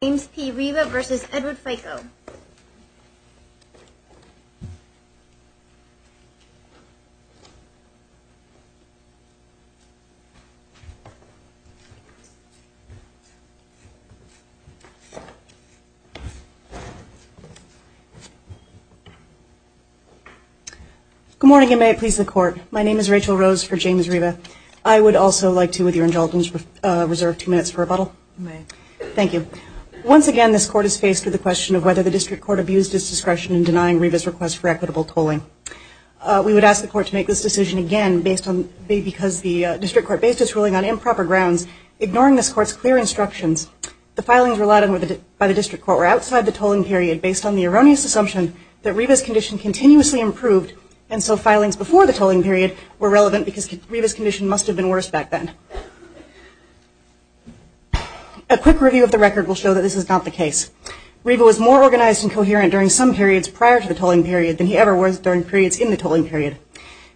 Good morning and may it please the court. My name is Rachel Rose for James Riva. I would Once again, this court is faced with the question of whether the district court abused its discretion in denying Riva's request for equitable tolling. We would ask the court to make this decision again because the district court based its ruling on improper grounds, ignoring this court's clear instructions. The filings relied on by the district court were outside the tolling period based on the erroneous assumption that Riva's condition continuously improved and so filings before the tolling period were relevant because Riva's condition must have been worse back then. A quick review of the record will show that this is not the case. Riva was more organized and coherent during some periods prior to the tolling period than he ever was during periods in the tolling period.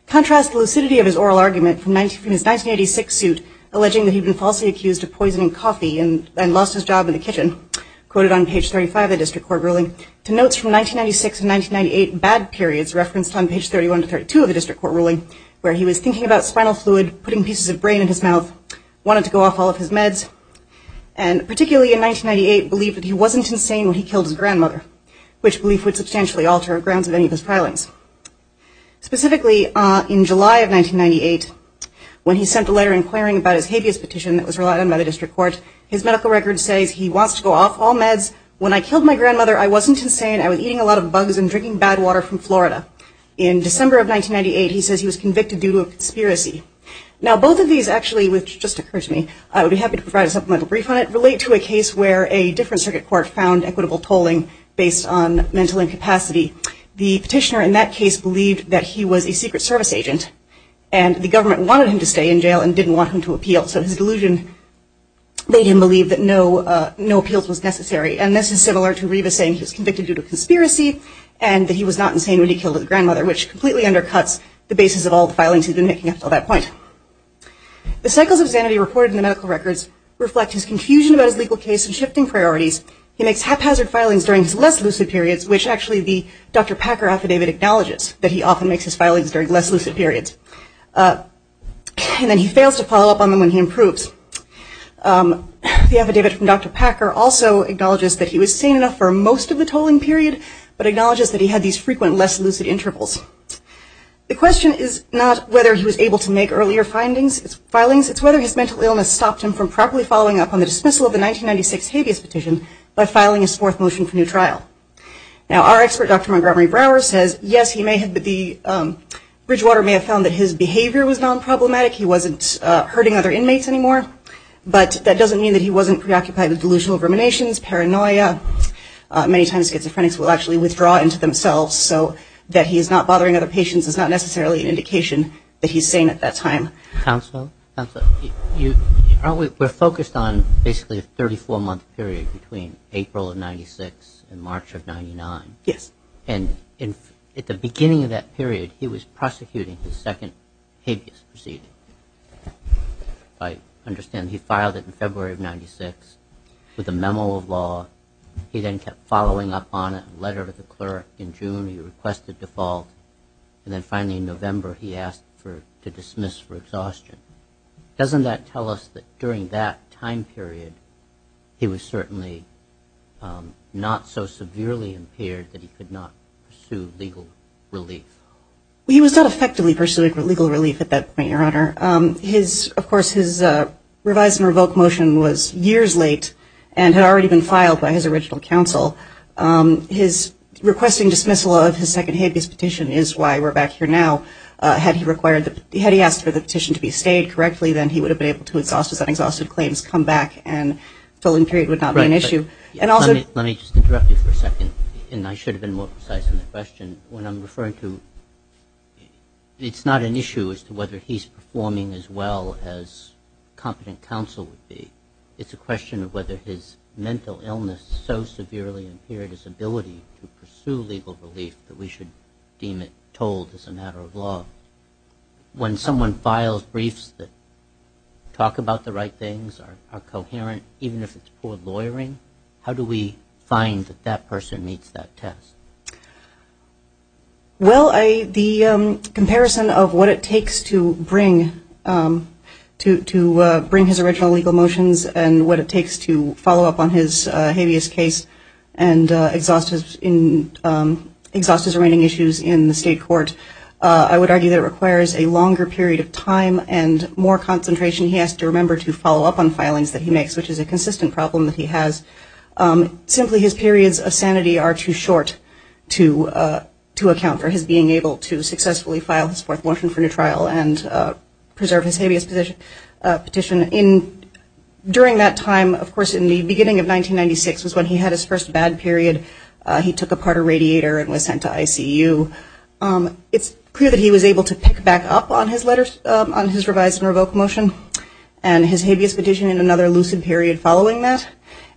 Contrast the lucidity of his oral argument from his 1986 suit alleging that he'd been falsely accused of poisoning coffee and lost his job in the kitchen, quoted on page 35 of the district court ruling, to notes from 1996 and 1998 bad periods referenced on page 31 to 32 of the district court ruling where he was thinking about spinal fluid, putting pieces of brain in his mouth, wanted to go off all of his meds, and particularly in 1998 believed that he wasn't insane when he killed his grandmother, which belief would substantially alter grounds of any of his filings. Specifically, in July of 1998, when he sent a letter inquiring about his habeas petition that was relied on by the district court, his medical record says he wants to go off all meds. When I killed my grandmother, I wasn't insane. I was eating a lot of bugs and drinking bad water from Florida. In December of 1998, he says he was convicted due to a conspiracy. Now, both of these actually, which just occurred to me, I would be happy to provide a supplemental brief on it, relate to a case where a different circuit court found equitable tolling based on mental incapacity. The petitioner in that case believed that he was a secret service agent and the government wanted him to stay in jail and didn't want him to appeal. So his delusion made him believe that no appeals was necessary. And this is similar to Reva saying he was convicted due to a conspiracy and that he was not insane when he killed his grandmother, which completely undercuts the basis of all the filings he'd been making up until that point. The cycles of sanity reported in the medical records reflect his confusion about his legal case and shifting priorities. He makes haphazard filings during his less lucid periods, which actually the Dr. Packer affidavit acknowledges, that he often makes his filings during less lucid periods. And then he fails to follow up on them when he improves. The affidavit from Dr. Packer also acknowledges that he was sane enough for most of the tolling period, but acknowledges that he had these frequent less lucid intervals. The question is not whether he was able to make earlier filings, it's whether his mental illness stopped him from properly following up on the dismissal of the 1996 habeas petition by filing his fourth motion for new trial. Now our expert, Dr. Montgomery Brower, says yes, Bridgewater may have found that his behavior was non-problematic, he wasn't hurting other inmates anymore, but that doesn't mean that he wasn't preoccupied with delusional ruminations, paranoia. Many times schizophrenics will actually withdraw into themselves, so that he's not bothering other patients is not necessarily an indication that he's sane at that time. Counsel, counsel, aren't we, we're focused on basically a 34 month period between April of 96 and March of 99. Yes. And in, at the beginning of that period, he was prosecuting his second habeas proceeding. I understand he filed it in February of 96 with a memo of law, he then kept following up on it, a letter to the clerk in June, he requested default, and then finally in November he asked for, to dismiss for exhaustion. Doesn't that tell us that during that time period he was certainly not so severely impaired that he could not pursue legal relief? He was not effectively pursuing legal relief at that point, Your Honor. His, of course, his revise and revoke motion was years late and had already been filed by his original counsel. His requesting dismissal of his second habeas petition is why we're back here now. Had he required the, had he asked for the petition to be stayed correctly, then he would have been able to exhaust his un-exhausted claims, come back, and fill in period would not be an issue. Let me just interrupt you for a second, and I should have been more precise in the question. When I'm referring to, it's not an issue as to whether he's performing as well as competent counsel would be. It's a question of whether his mental illness so severely impaired his ability to pursue legal relief that we should deem it told as a matter of law. When someone files briefs that talk about the right things, are coherent, even if it's poor lawyering, how do we find that that person meets that test? Well, I, the comparison of what it takes to bring, to bring his original legal motions and what it takes to follow up on his habeas case and exhaust his, exhaust his remaining issues in the state court, I would argue that it requires a longer period of time and more concentration he has to remember to follow up on filings that he makes, which is a consistent problem that he has. Simply his periods of sanity are too short to, to account for his being able to successfully file his fourth motion for new trial and preserve his habeas petition. In, during that time, of course, in the beginning of 1996 was when he had his first bad period. He took apart a radiator and was sent to ICU. It's clear that he was able to pick back up on his letters, on his revised and revoked motion and his habeas petition in another lucid period following that.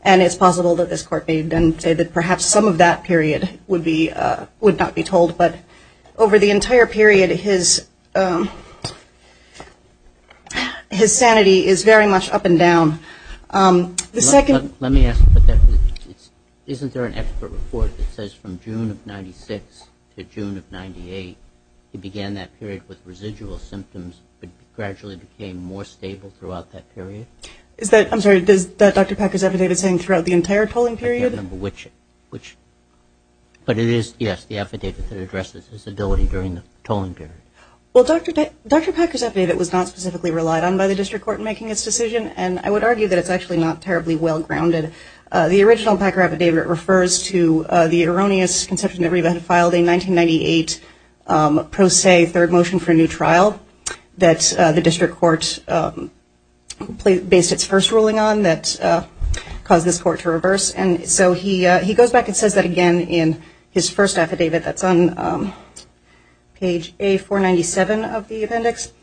And it's possible that this court may then say that perhaps some of that period would be, would not be told. But over the entire period, his, his sanity is very much up and down. The second- Let me ask, isn't there an expert report that says from June of 96 to June of 98, he began that period with residual symptoms but gradually became more stable throughout that period? Is that, I'm sorry, is that Dr. Packer's affidavit saying throughout the entire tolling period? I can't remember which, which, but it is, yes, the affidavit that addresses his ability during the tolling period. Well, Dr. Packer's affidavit was not specifically relied on by the district court in making its decision, and I would argue that it's actually not terribly well grounded. The original Packer affidavit refers to the erroneous conception that Reba had filed a 1998 pro se third motion for a new trial that the district court placed, based its first ruling on that caused this court to reverse. And so he, he goes back and says that again in his first affidavit that's on page A-497 of the appendix.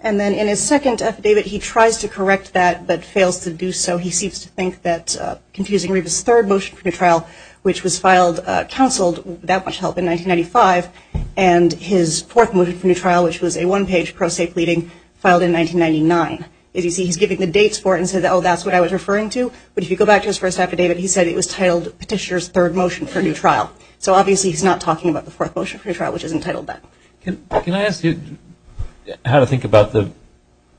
And then in his second affidavit, he tries to correct that but fails to do so. He seems to think that confusing Reba's third motion for a new trial, which was filed, counseled, without much help, in 1995, and his fourth motion for a new trial, which was a one-page pro se pleading, filed in 1999. As you see, he's giving the dates for it and says, oh, that's what I was referring to. But if you go back to his first affidavit, he said it was titled Petitioner's third motion for a new trial. So obviously he's not talking about the fourth motion for a new trial, which is entitled that. Can I ask you how to think about the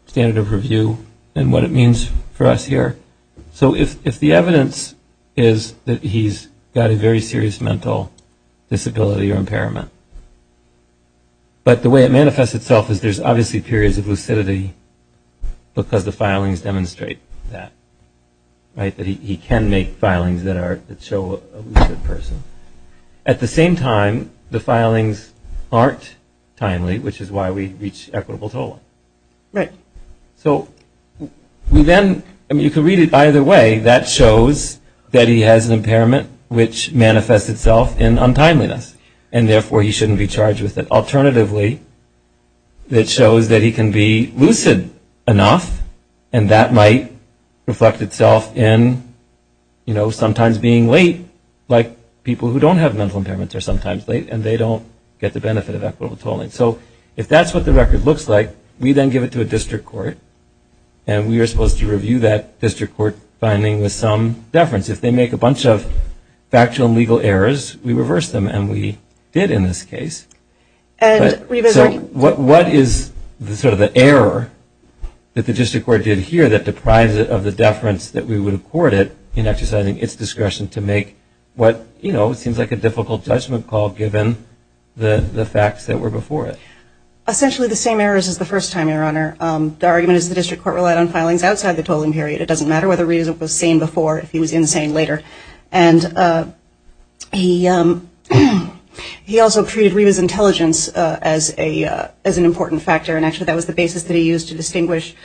standard of review and what it means for us here? So if the evidence is that he's got a very serious mental disability or impairment, but the way it manifests itself is there's obviously periods of lucidity because the filings demonstrate that, right, that he can make filings that are, that show a lucid person. At the same time, the filings aren't timely, which is why we reach equitable tolling. Right. So we then, I mean, you can read it either way. That shows that he has an impairment which manifests itself in untimeliness, and therefore he shouldn't be charged with it. Alternatively, it shows that he can be lucid enough, and that might reflect itself in, you know, sometimes being late, like people who don't have mental impairments are sometimes late, and they don't get the benefit of equitable tolling. So if that's what the record looks like, we then give it to a district court, and we are supposed to review that district court finding with some deference. If they make a bunch of factual and legal errors, we reverse them, and we did in this case. And we've assigned So what is sort of the error that the district court did here that deprives it of the deference that we would accord it in exercising its discretion to make what, you know, seems like a difficult judgment call given the facts that were before it? Essentially the same errors as the first time, Your Honor. The argument is the district court relied on filings outside the tolling period. It doesn't matter whether Reva was sane before if he was insane later. And he also treated Reva's intelligence as an important factor, and actually that was the basis that he used to distinguish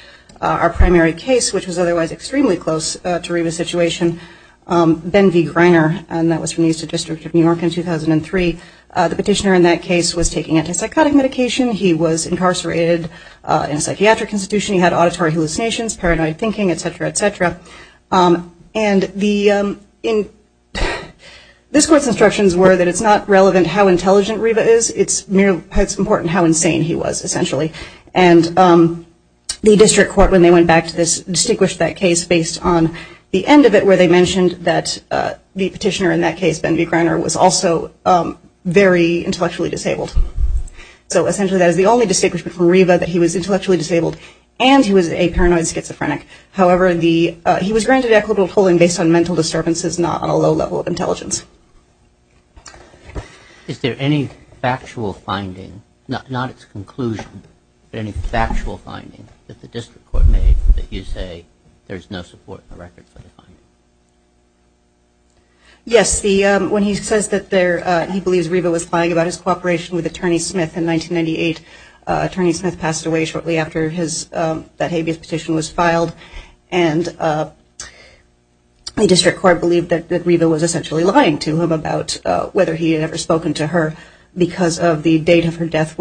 our primary case, which was otherwise extremely close to Reva's situation. Ben V. Greiner, and that was from the Eastern District of New York in 2003. The petitioner in that case was taking antipsychotic medication. He was incarcerated in a psychiatric institution. He had auditory hallucinations, paranoid thinking, et cetera, et cetera. And this court's instructions were that it's not relevant how intelligent Reva is. It's important how insane he was, essentially. And the district court, when they went back to this, distinguished that case based on the end of it where they mentioned that the petitioner in that case, Ben V. Greiner, was also very intellectually disabled. So essentially that is the only distinguishment from Reva, that he was intellectually disabled and he was a paranoid schizophrenic. However, he was granted equitable tolling based on mental disturbances, not on a low level of intelligence. Is there any factual finding, not its conclusion, but any factual finding that the district court made that you say there's no support in the record for the finding? Yes. When he says that he believes Reva was lying about his cooperation with Attorney Smith in 1998, Attorney Smith passed away shortly after that habeas petition was filed. And the district court believed that Reva was essentially lying to him about whether he had ever spoken to her because of the date of her death.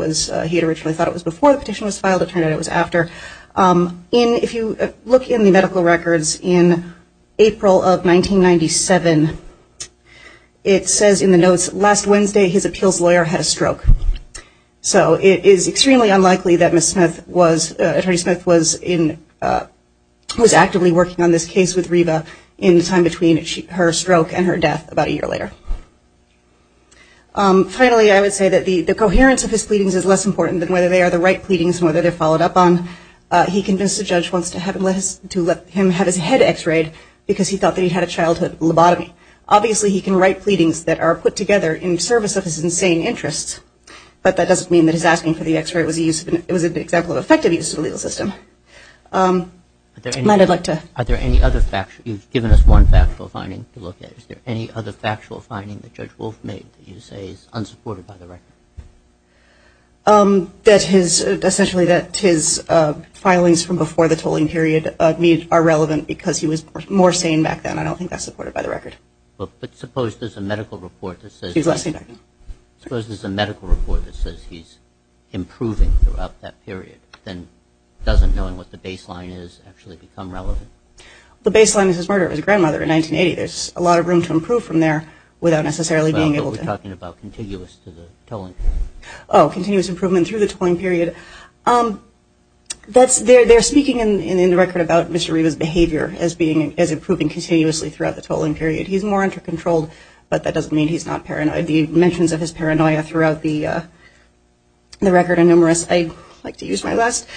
He had originally thought it was before the petition was filed. It turned out it was after. If you look in the medical records in April of 1997, it says in the notes, last Wednesday his appeals lawyer had a stroke. So it is extremely unlikely that Attorney Smith was actively working on this case with Reva in the time between her stroke and her death about a year later. Finally, I would say that the coherence of his pleadings is less important than whether they are the right pleadings and whether they're followed up on. He convinced the judge to let him have his head x-rayed because he thought that he'd had a childhood lobotomy. Obviously he can write pleadings that are put together in service of his insane interests, but that doesn't mean that his asking for the x-ray was an example of effective use of the legal system. Are there any other factual, you've given us one factual finding to look at. Is there any other factual finding that Judge Wolf made that you say is unsupported by the record? That his, essentially that his filings from before the tolling period are relevant because he was more sane back then. I don't think that's supported by the record. But suppose there's a medical report that says he's improving throughout that period, then doesn't knowing what the baseline is actually become relevant? The baseline is his murder of his grandmother in 1980. There's a lot of room to improve from there without necessarily being able to You're talking about continuous to the tolling period. Oh, continuous improvement through the tolling period. That's, they're speaking in the record about Mr. Riva's behavior as being, as improving continuously throughout the tolling period. He's more under controlled, but that doesn't mean he's not paranoid. The mentions of his paranoia throughout the record are numerous. I'd like to use my last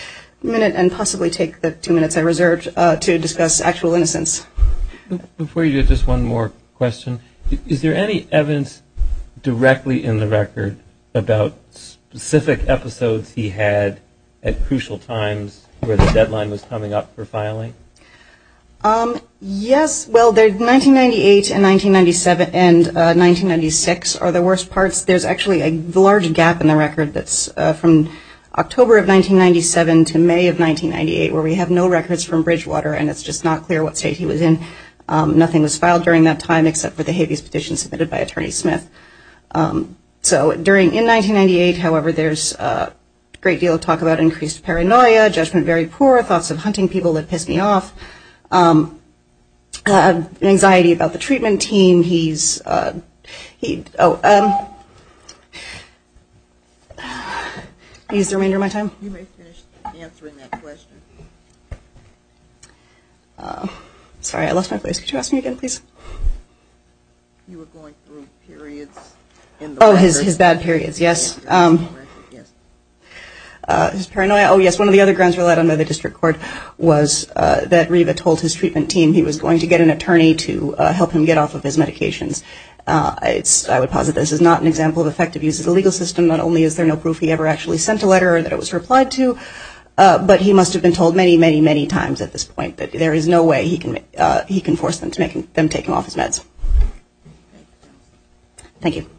minute and possibly take the two minutes I reserved to discuss actual innocence. Before you do, just one more question. Is there any evidence directly in the record about specific episodes he had at crucial times where the deadline was coming up for filing? Yes. Well, 1998 and 1997 and 1996 are the worst parts. There's actually a large gap in the record that's from October of 1997 to May of 1998 where we have no records from 1998. He was in, nothing was filed during that time except for the habeas petition submitted by Attorney Smith. So during, in 1998, however, there's a great deal of talk about increased paranoia, judgment very poor, thoughts of hunting people that pissed me off, anxiety about the treatment team. He's, he, oh, I'll use the remainder of my time. You may finish answering that question. Sorry, I lost my place. Could you ask me again, please? You were going through periods in the record. Oh, his bad periods, yes. His paranoia, oh yes, one of the other grounds relied on by the district court was that Reva told his treatment team he was going to get an attorney to help him get off of his medications. It's, I would posit this is not an example of effective use of the legal system. Not only is there no proof he ever actually sent a letter or was replied to, but he must have been told many, many, many times at this point that there is no way he can, he can force them to make him, them take him off his meds. Thank you.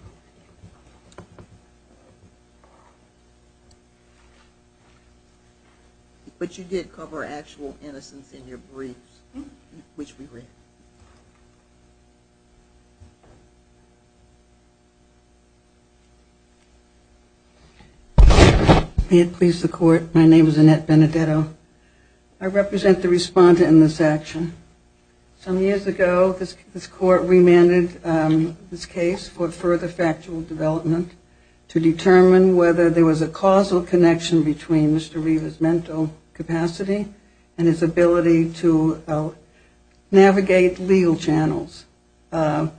But you did cover actual innocence in your briefs, which we read. May it please the court, my name is Annette Benedetto. I represent the respondent in this action. Some years ago this court remanded this case for further factual development to determine whether there was a causal connection between Mr. Reva's mental capacity and his ability to create legal channels. On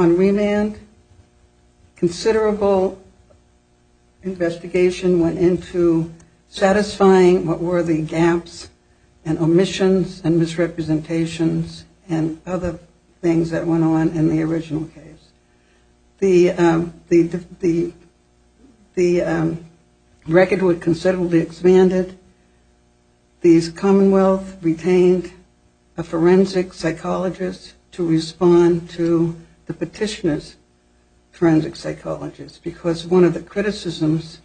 remand, considerable investigation went into satisfying what were the gaps and omissions and misrepresentations and other things that went on in the original case. The record would considerably expand it. These commonwealth retained the record and allowed a forensic psychologist to respond to the petitioner's forensic psychologist, because one of the criticisms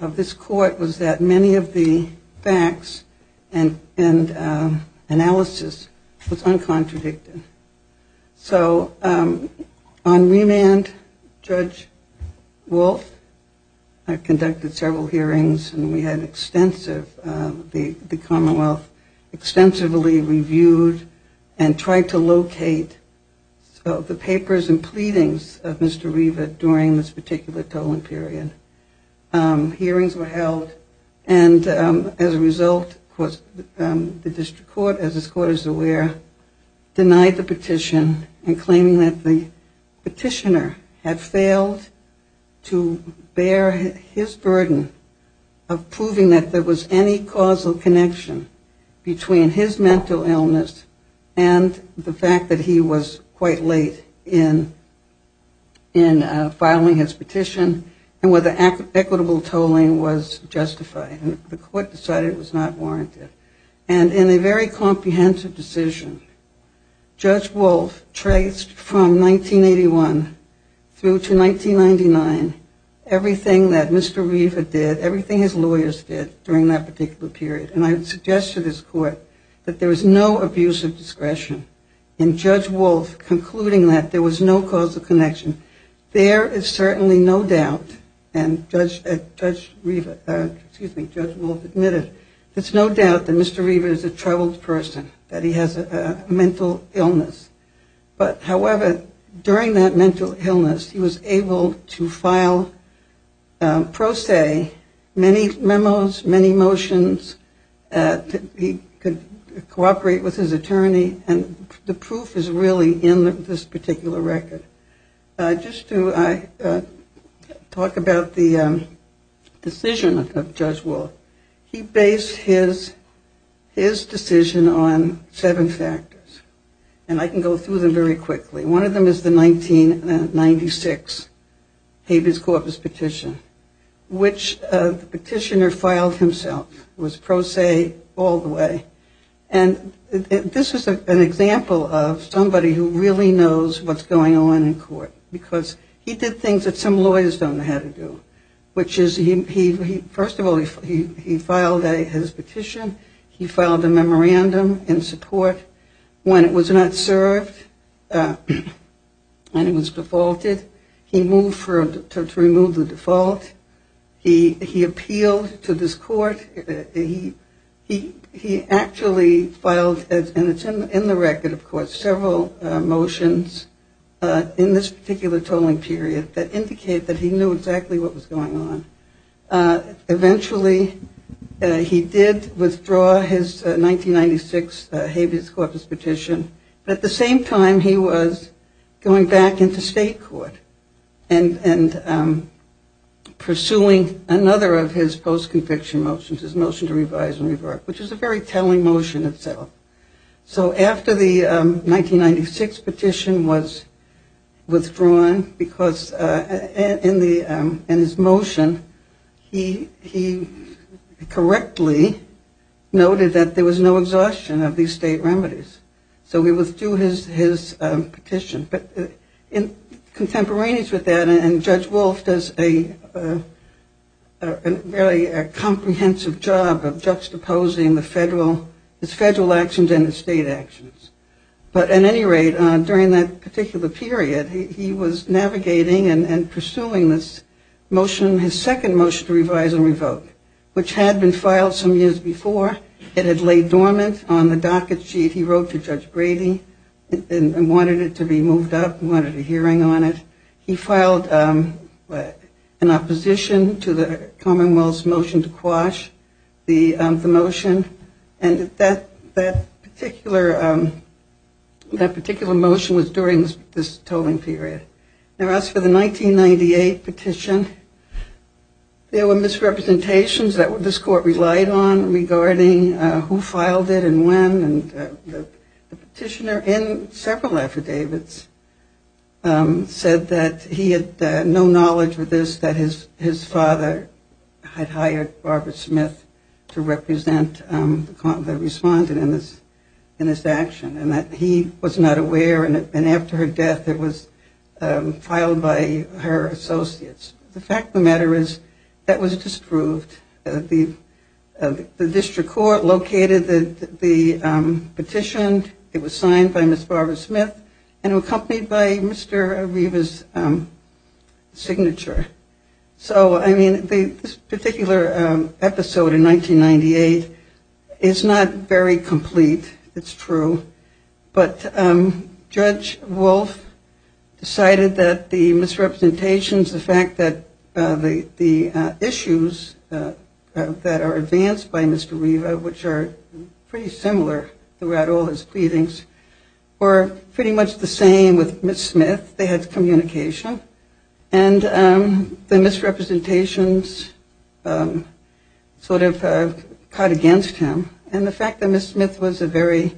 of this court was that many of the facts and analysis was uncontradicted. So on remand, Judge Wolf conducted several hearings and we had extensive, the court reviewed and tried to locate the papers and pleadings of Mr. Reva during this particular tolling period. Hearings were held and as a result, the district court, as this court is aware, denied the petition and claimed that the petitioner had failed to bear his witness and the fact that he was quite late in filing his petition and whether equitable tolling was justified. The court decided it was not warranted. And in a very comprehensive decision, Judge Wolf traced from 1981 through to 1999 everything that Mr. Reva did, everything his lawyers did during that particular period. And I would suggest to this court that there was no abuse of discretion. In Judge Wolf concluding that, there was no causal connection. There is certainly no doubt, and Judge Reva, excuse me, Judge Wolf admitted, there's no doubt that Mr. Reva is a troubled person, that he has a mental illness. But however, during that mental illness, he was able to file pro se many memos, many motions, he could cooperate with his attorney, and the proof is really in this particular record. Just to talk about the decision of Judge Wolf, he based his decision on seven factors, and I can go through them very quickly. One of them is the 1996 Habeas Corpus petition, which the petitioner filed himself. It was pro se all the way. And this is an example of somebody who really knows what's going on in court, because he did things that some lawyers don't know how to do, which is, first of all, he filed his petition. He filed a memorandum in support. When it was not served and it was defaulted, he moved to remove the default. He appealed to this court. He actually filed, and it's in the record, of course, several motions in this particular tolling period that indicate that he knew exactly what was going on. Eventually, he did withdraw his 1996 Habeas Corpus petition, but at the same time, he was going back into state court and pursuing another of his post-conviction motions, his motion to revise and revert, which is a very telling motion itself. So after the 1996 petition was withdrawn, because in his motion, he correctly noted that there was no exhaustion of these state remedies. So he withdrew his petition. But in contemporaneous with that, and Judge Wolf does a very comprehensive job of juxtaposing the federal, his federal actions and his state actions. But at any rate, during that particular period, he was navigating and pursuing this motion, his second motion to revise and revoke, which had been filed some years before. It had laid dormant on the docket sheet he wrote to Judge Brady and wanted it to be moved up, wanted a hearing on it. He filed an opposition to the Commonwealth's motion to quash the motion. And that particular motion was during this tolling period. Now as for the 1998 petition, there were misrepresentations that this court relied on regarding who filed it and when. And the petitioner in several affidavits said that he had no knowledge of this, that his father had hired Barbara Smith to represent the court that responded in this action, and that he was not aware. And after her death, it was filed by her associates. The fact of the matter is that was disproved. The district court located the petition. It was signed by Ms. Barbara Smith and accompanied by Mr. Areva's signature. So I mean, this particular episode in 1998 is not very complete. It's true. But Judge Wolf decided that the misrepresentations, the fact that the issues that are advanced by Mr. Areva, which are pretty similar throughout all his pleadings, were pretty much the same with Ms. Smith. They had communication. And the misrepresentations sort of caught against him. And the fact that Ms. Smith was a very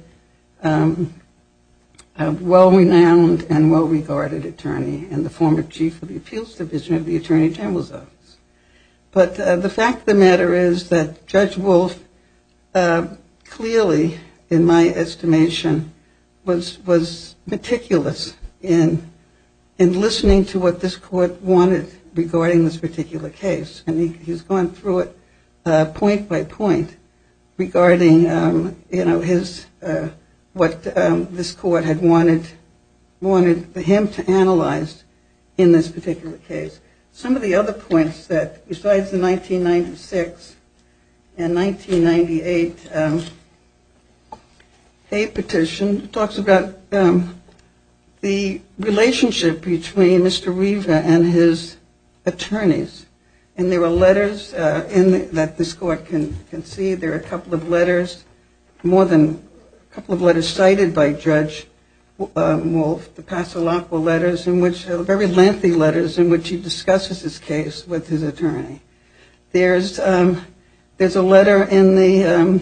well-renowned and well-regarded attorney and the former Chief of the Appeals Division of the Attorney General's Office. But the fact of the matter is that Judge Wolf clearly, in my estimation, was meticulous in listening to what this court wanted regarding this particular case. And he's gone through it point by point regarding, you know, what this court had wanted him to analyze in this particular case. Some of the other points that, besides the 1996 and 1998 hate petition, it talks about the relationship between Mr. Areva and his attorneys. And there are letters that this court can see. There are a couple of letters, more than a couple of letters cited by Judge Wolf, the Pasolaco letters, which are very lengthy letters in which he discusses his case with his attorney. There's a letter in the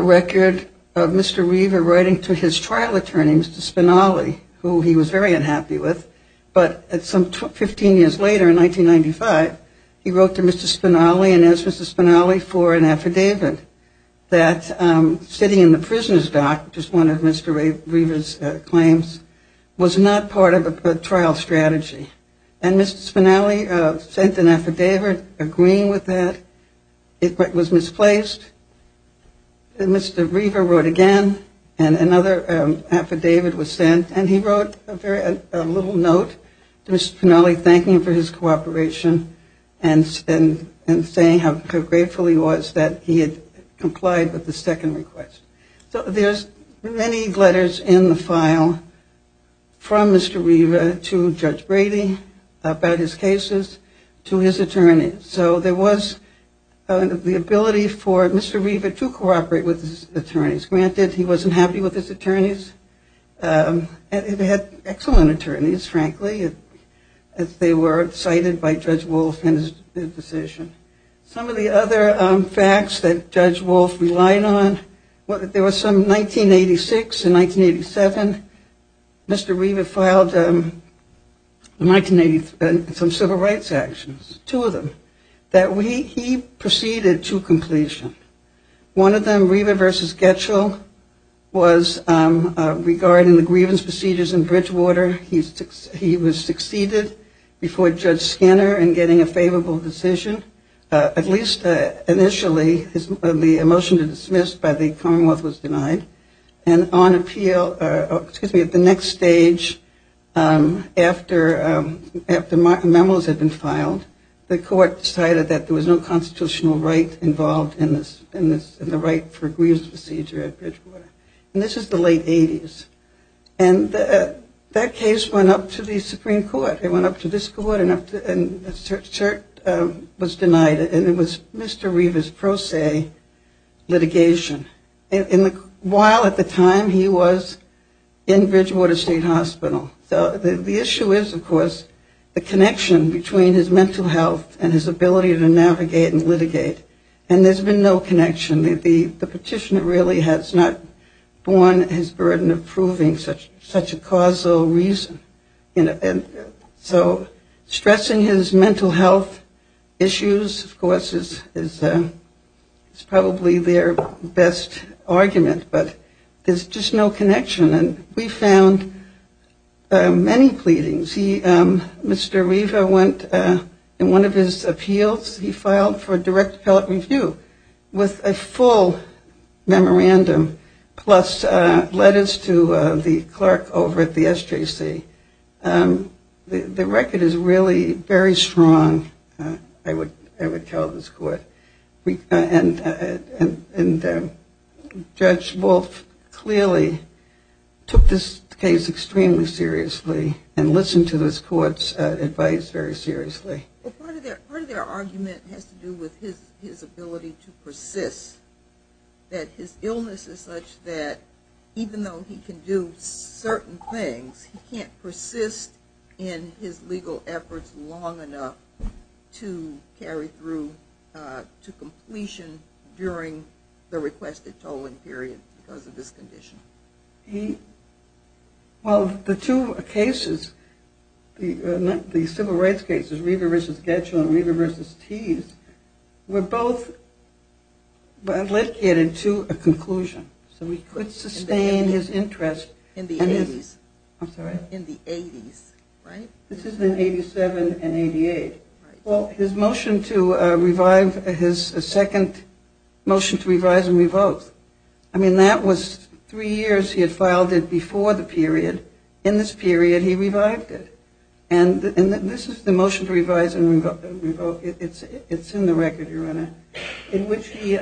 record of Mr. Areva writing to his trial attorney, Ms. Smith, Mr. Spinelli, who he was very unhappy with. But some 15 years later, in 1995, he wrote to Mr. Spinelli and asked Mr. Spinelli for an affidavit that, sitting in the prisoner's dock, which is one of Mr. Areva's claims, was not part of a trial strategy. And Mr. Spinelli sent an affidavit agreeing with that. It was misplaced. And Mr. Areva wrote again and another affidavit was sent. And he wrote a little note to Mr. Spinelli thanking him for his cooperation and saying how grateful he was that he had complied with the second request. So there's many letters in the file from Mr. Areva to Judge Brady about his cases to his attorney. So there was the ability for Mr. Areva to cooperate with his attorneys. Granted, he wasn't happy with his attorneys. And they had excellent attorneys, frankly, as they were cited by Judge Wolf in his decision. Some of the other facts that Judge Wolf relied on, there was some 1986 and 1987, Mr. Areva filed some civil rights actions, two of them, that he proceeded to completion. One of them, was regarding the grievance procedures in Bridgewater. He was succeeded before Judge Skinner in getting a favorable decision. At least initially, the motion to dismiss by the Commonwealth was denied. And on appeal, excuse me, at the next stage after memos had been filed, the court decided that there was no constitutional right involved in the right for a grievance procedure at Bridgewater. And this is the late 80s. And that case went up to the Supreme Court. It went up to this court and was denied. And it was Mr. Areva's pro se litigation. While at the time he was in Bridgewater State Hospital. So the issue is, of course, the connection between his mental health and his ability to navigate and litigate. And there's been no connection. The petitioner really has not borne his burden of proving such a causal reason. So stressing his mental health issues, of course, is probably their best argument. But there's just no connection. And we found many pleadings. Mr. Areva went in one of his appeals he filed for direct appellate review with a full memorandum plus letters to the clerk over at the SJC. The record is really very strong, I would tell this court. And Judge Wolf clearly took this case extremely seriously and listened to this court's advice very seriously. Part of their argument has to do with his ability to persist. That his illness is such that even though he can do certain things, he can't persist in his legal efforts long enough to carry through to completion during the requested tolling period because of this condition. Well, the two cases, the civil rights cases, Reaver v. Getchell and Reaver v. Tees, were both litigated to a conclusion. So we could sustain his interest in the 80s. This is in 87 and 88. His motion to revise, his second motion to revise and revoke, I mean that was three years he had filed it before the period. In this period, he revived it. And this is the motion to revise and revoke. It's in the record, Your Honor, in which he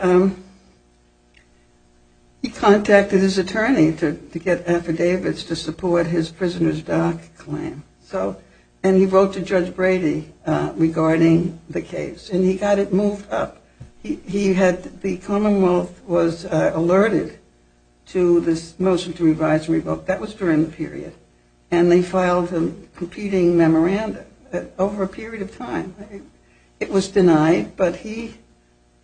contacted his attorney to get affidavits to support his prisoner's dock claim. And he wrote to Judge Brady regarding the case. And he got it moved up. The commonwealth was alerted to this motion to revise and revoke that was during the period. And they filed a competing memorandum over a period of time. It was denied, but he,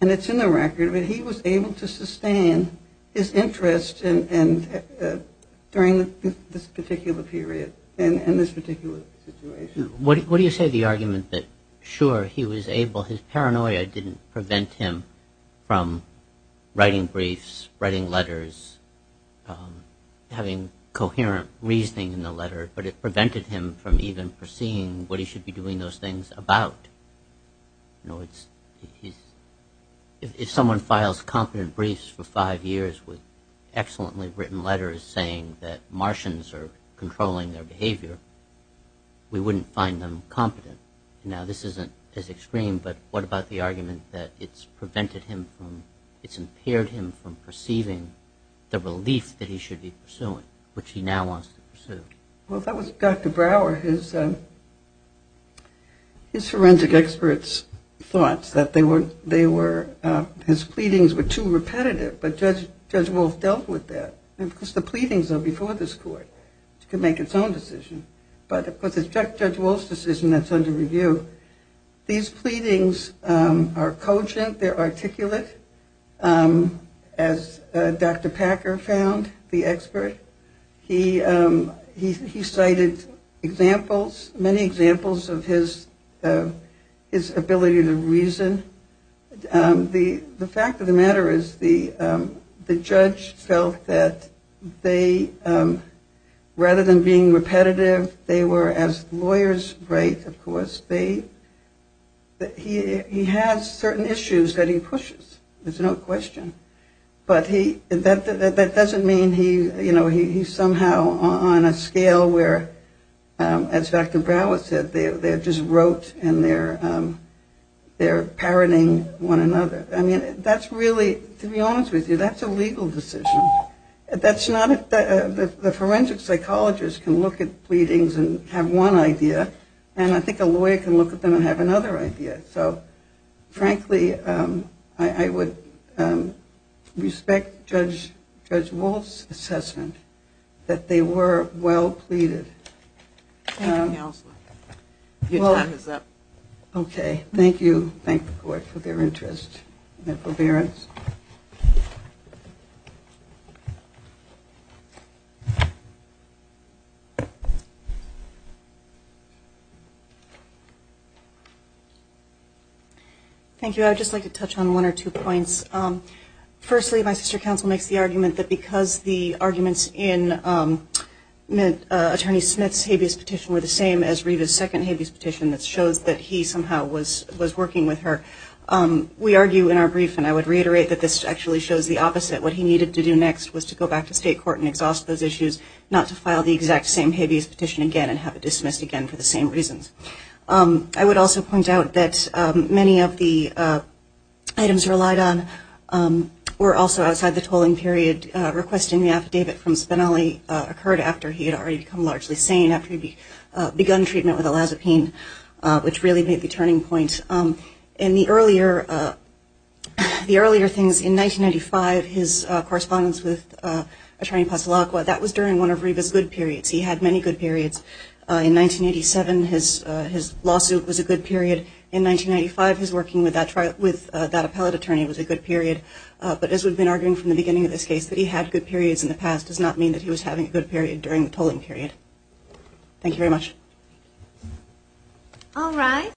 and it's in the record, but he was able to sustain his interest during this particular period and this particular situation. What do you say to the argument that sure, he was able, his paranoia didn't prevent him from writing briefs, writing letters, having coherent reasoning in the letter, but it prevented him from even perceiving what he should be doing those things about? If someone files competent briefs for five years with excellently written letters saying that Martians are controlling their behavior, we wouldn't find them competent. Now this isn't as extreme, but what about the argument that it's prevented him from, it's impaired him from perceiving the relief that he should be pursuing, which he now wants to pursue? Well, if that was Dr. Brower, his forensic experts thought that they were, his pleadings were too repetitive, but Judge Wolf dealt with that. And of course the pleadings are before this court. It can make its own decision. But of course it's Judge Wolf's decision that's under review. These pleadings are cogent, they're articulate, as Dr. Packer found, the expert. He cited examples, many examples of his ability to reason. The fact of the matter is the judge felt that they, rather than being repetitive, they were as lawyers write, of course. He has certain issues that he pushes, there's no question. But that doesn't mean he's somehow on a scale where, as Dr. Brower said, they're just wrote and they're parroting one another. I mean that's really, to be honest with you, that's a legal decision. That's not, the forensic psychologist can look at pleadings and have one idea, and I think a lawyer can look at them and have another idea. So frankly, I would respect Judge Wolf's assessment that they were well pleaded. Anything else? Your time is up. Okay. Thank you. Thank the court for their interest and forbearance. Thank you. I would just like to touch on one or two points. Firstly, my sister counsel makes the argument that because the arguments in Attorney Smith's habeas petition were the same as Reeve's second habeas petition that shows that he somehow was working with her. We argue in our brief, and I would reiterate that this actually shows the opposite. What he needed to do next was to go back to state court and exhaust those issues, not to file the exact same habeas petition again and have it dismissed again for the same reasons. I would also point out that many of the items relied on were also outside the tolling period. Requesting the affidavit from Spinelli occurred after he had already become largely sane, after he had begun treatment with elazapine, which really made the turning point. In the correspondence with Attorney Pasolacqua, that was during one of Reeve's good periods. He had many good periods. In 1987, his lawsuit was a good period. In 1995, his working with that appellate attorney was a good period. But as we've been arguing from the beginning of this case, that he had good periods in the past does not mean that he was having a good period during the tolling period. Thank you very much.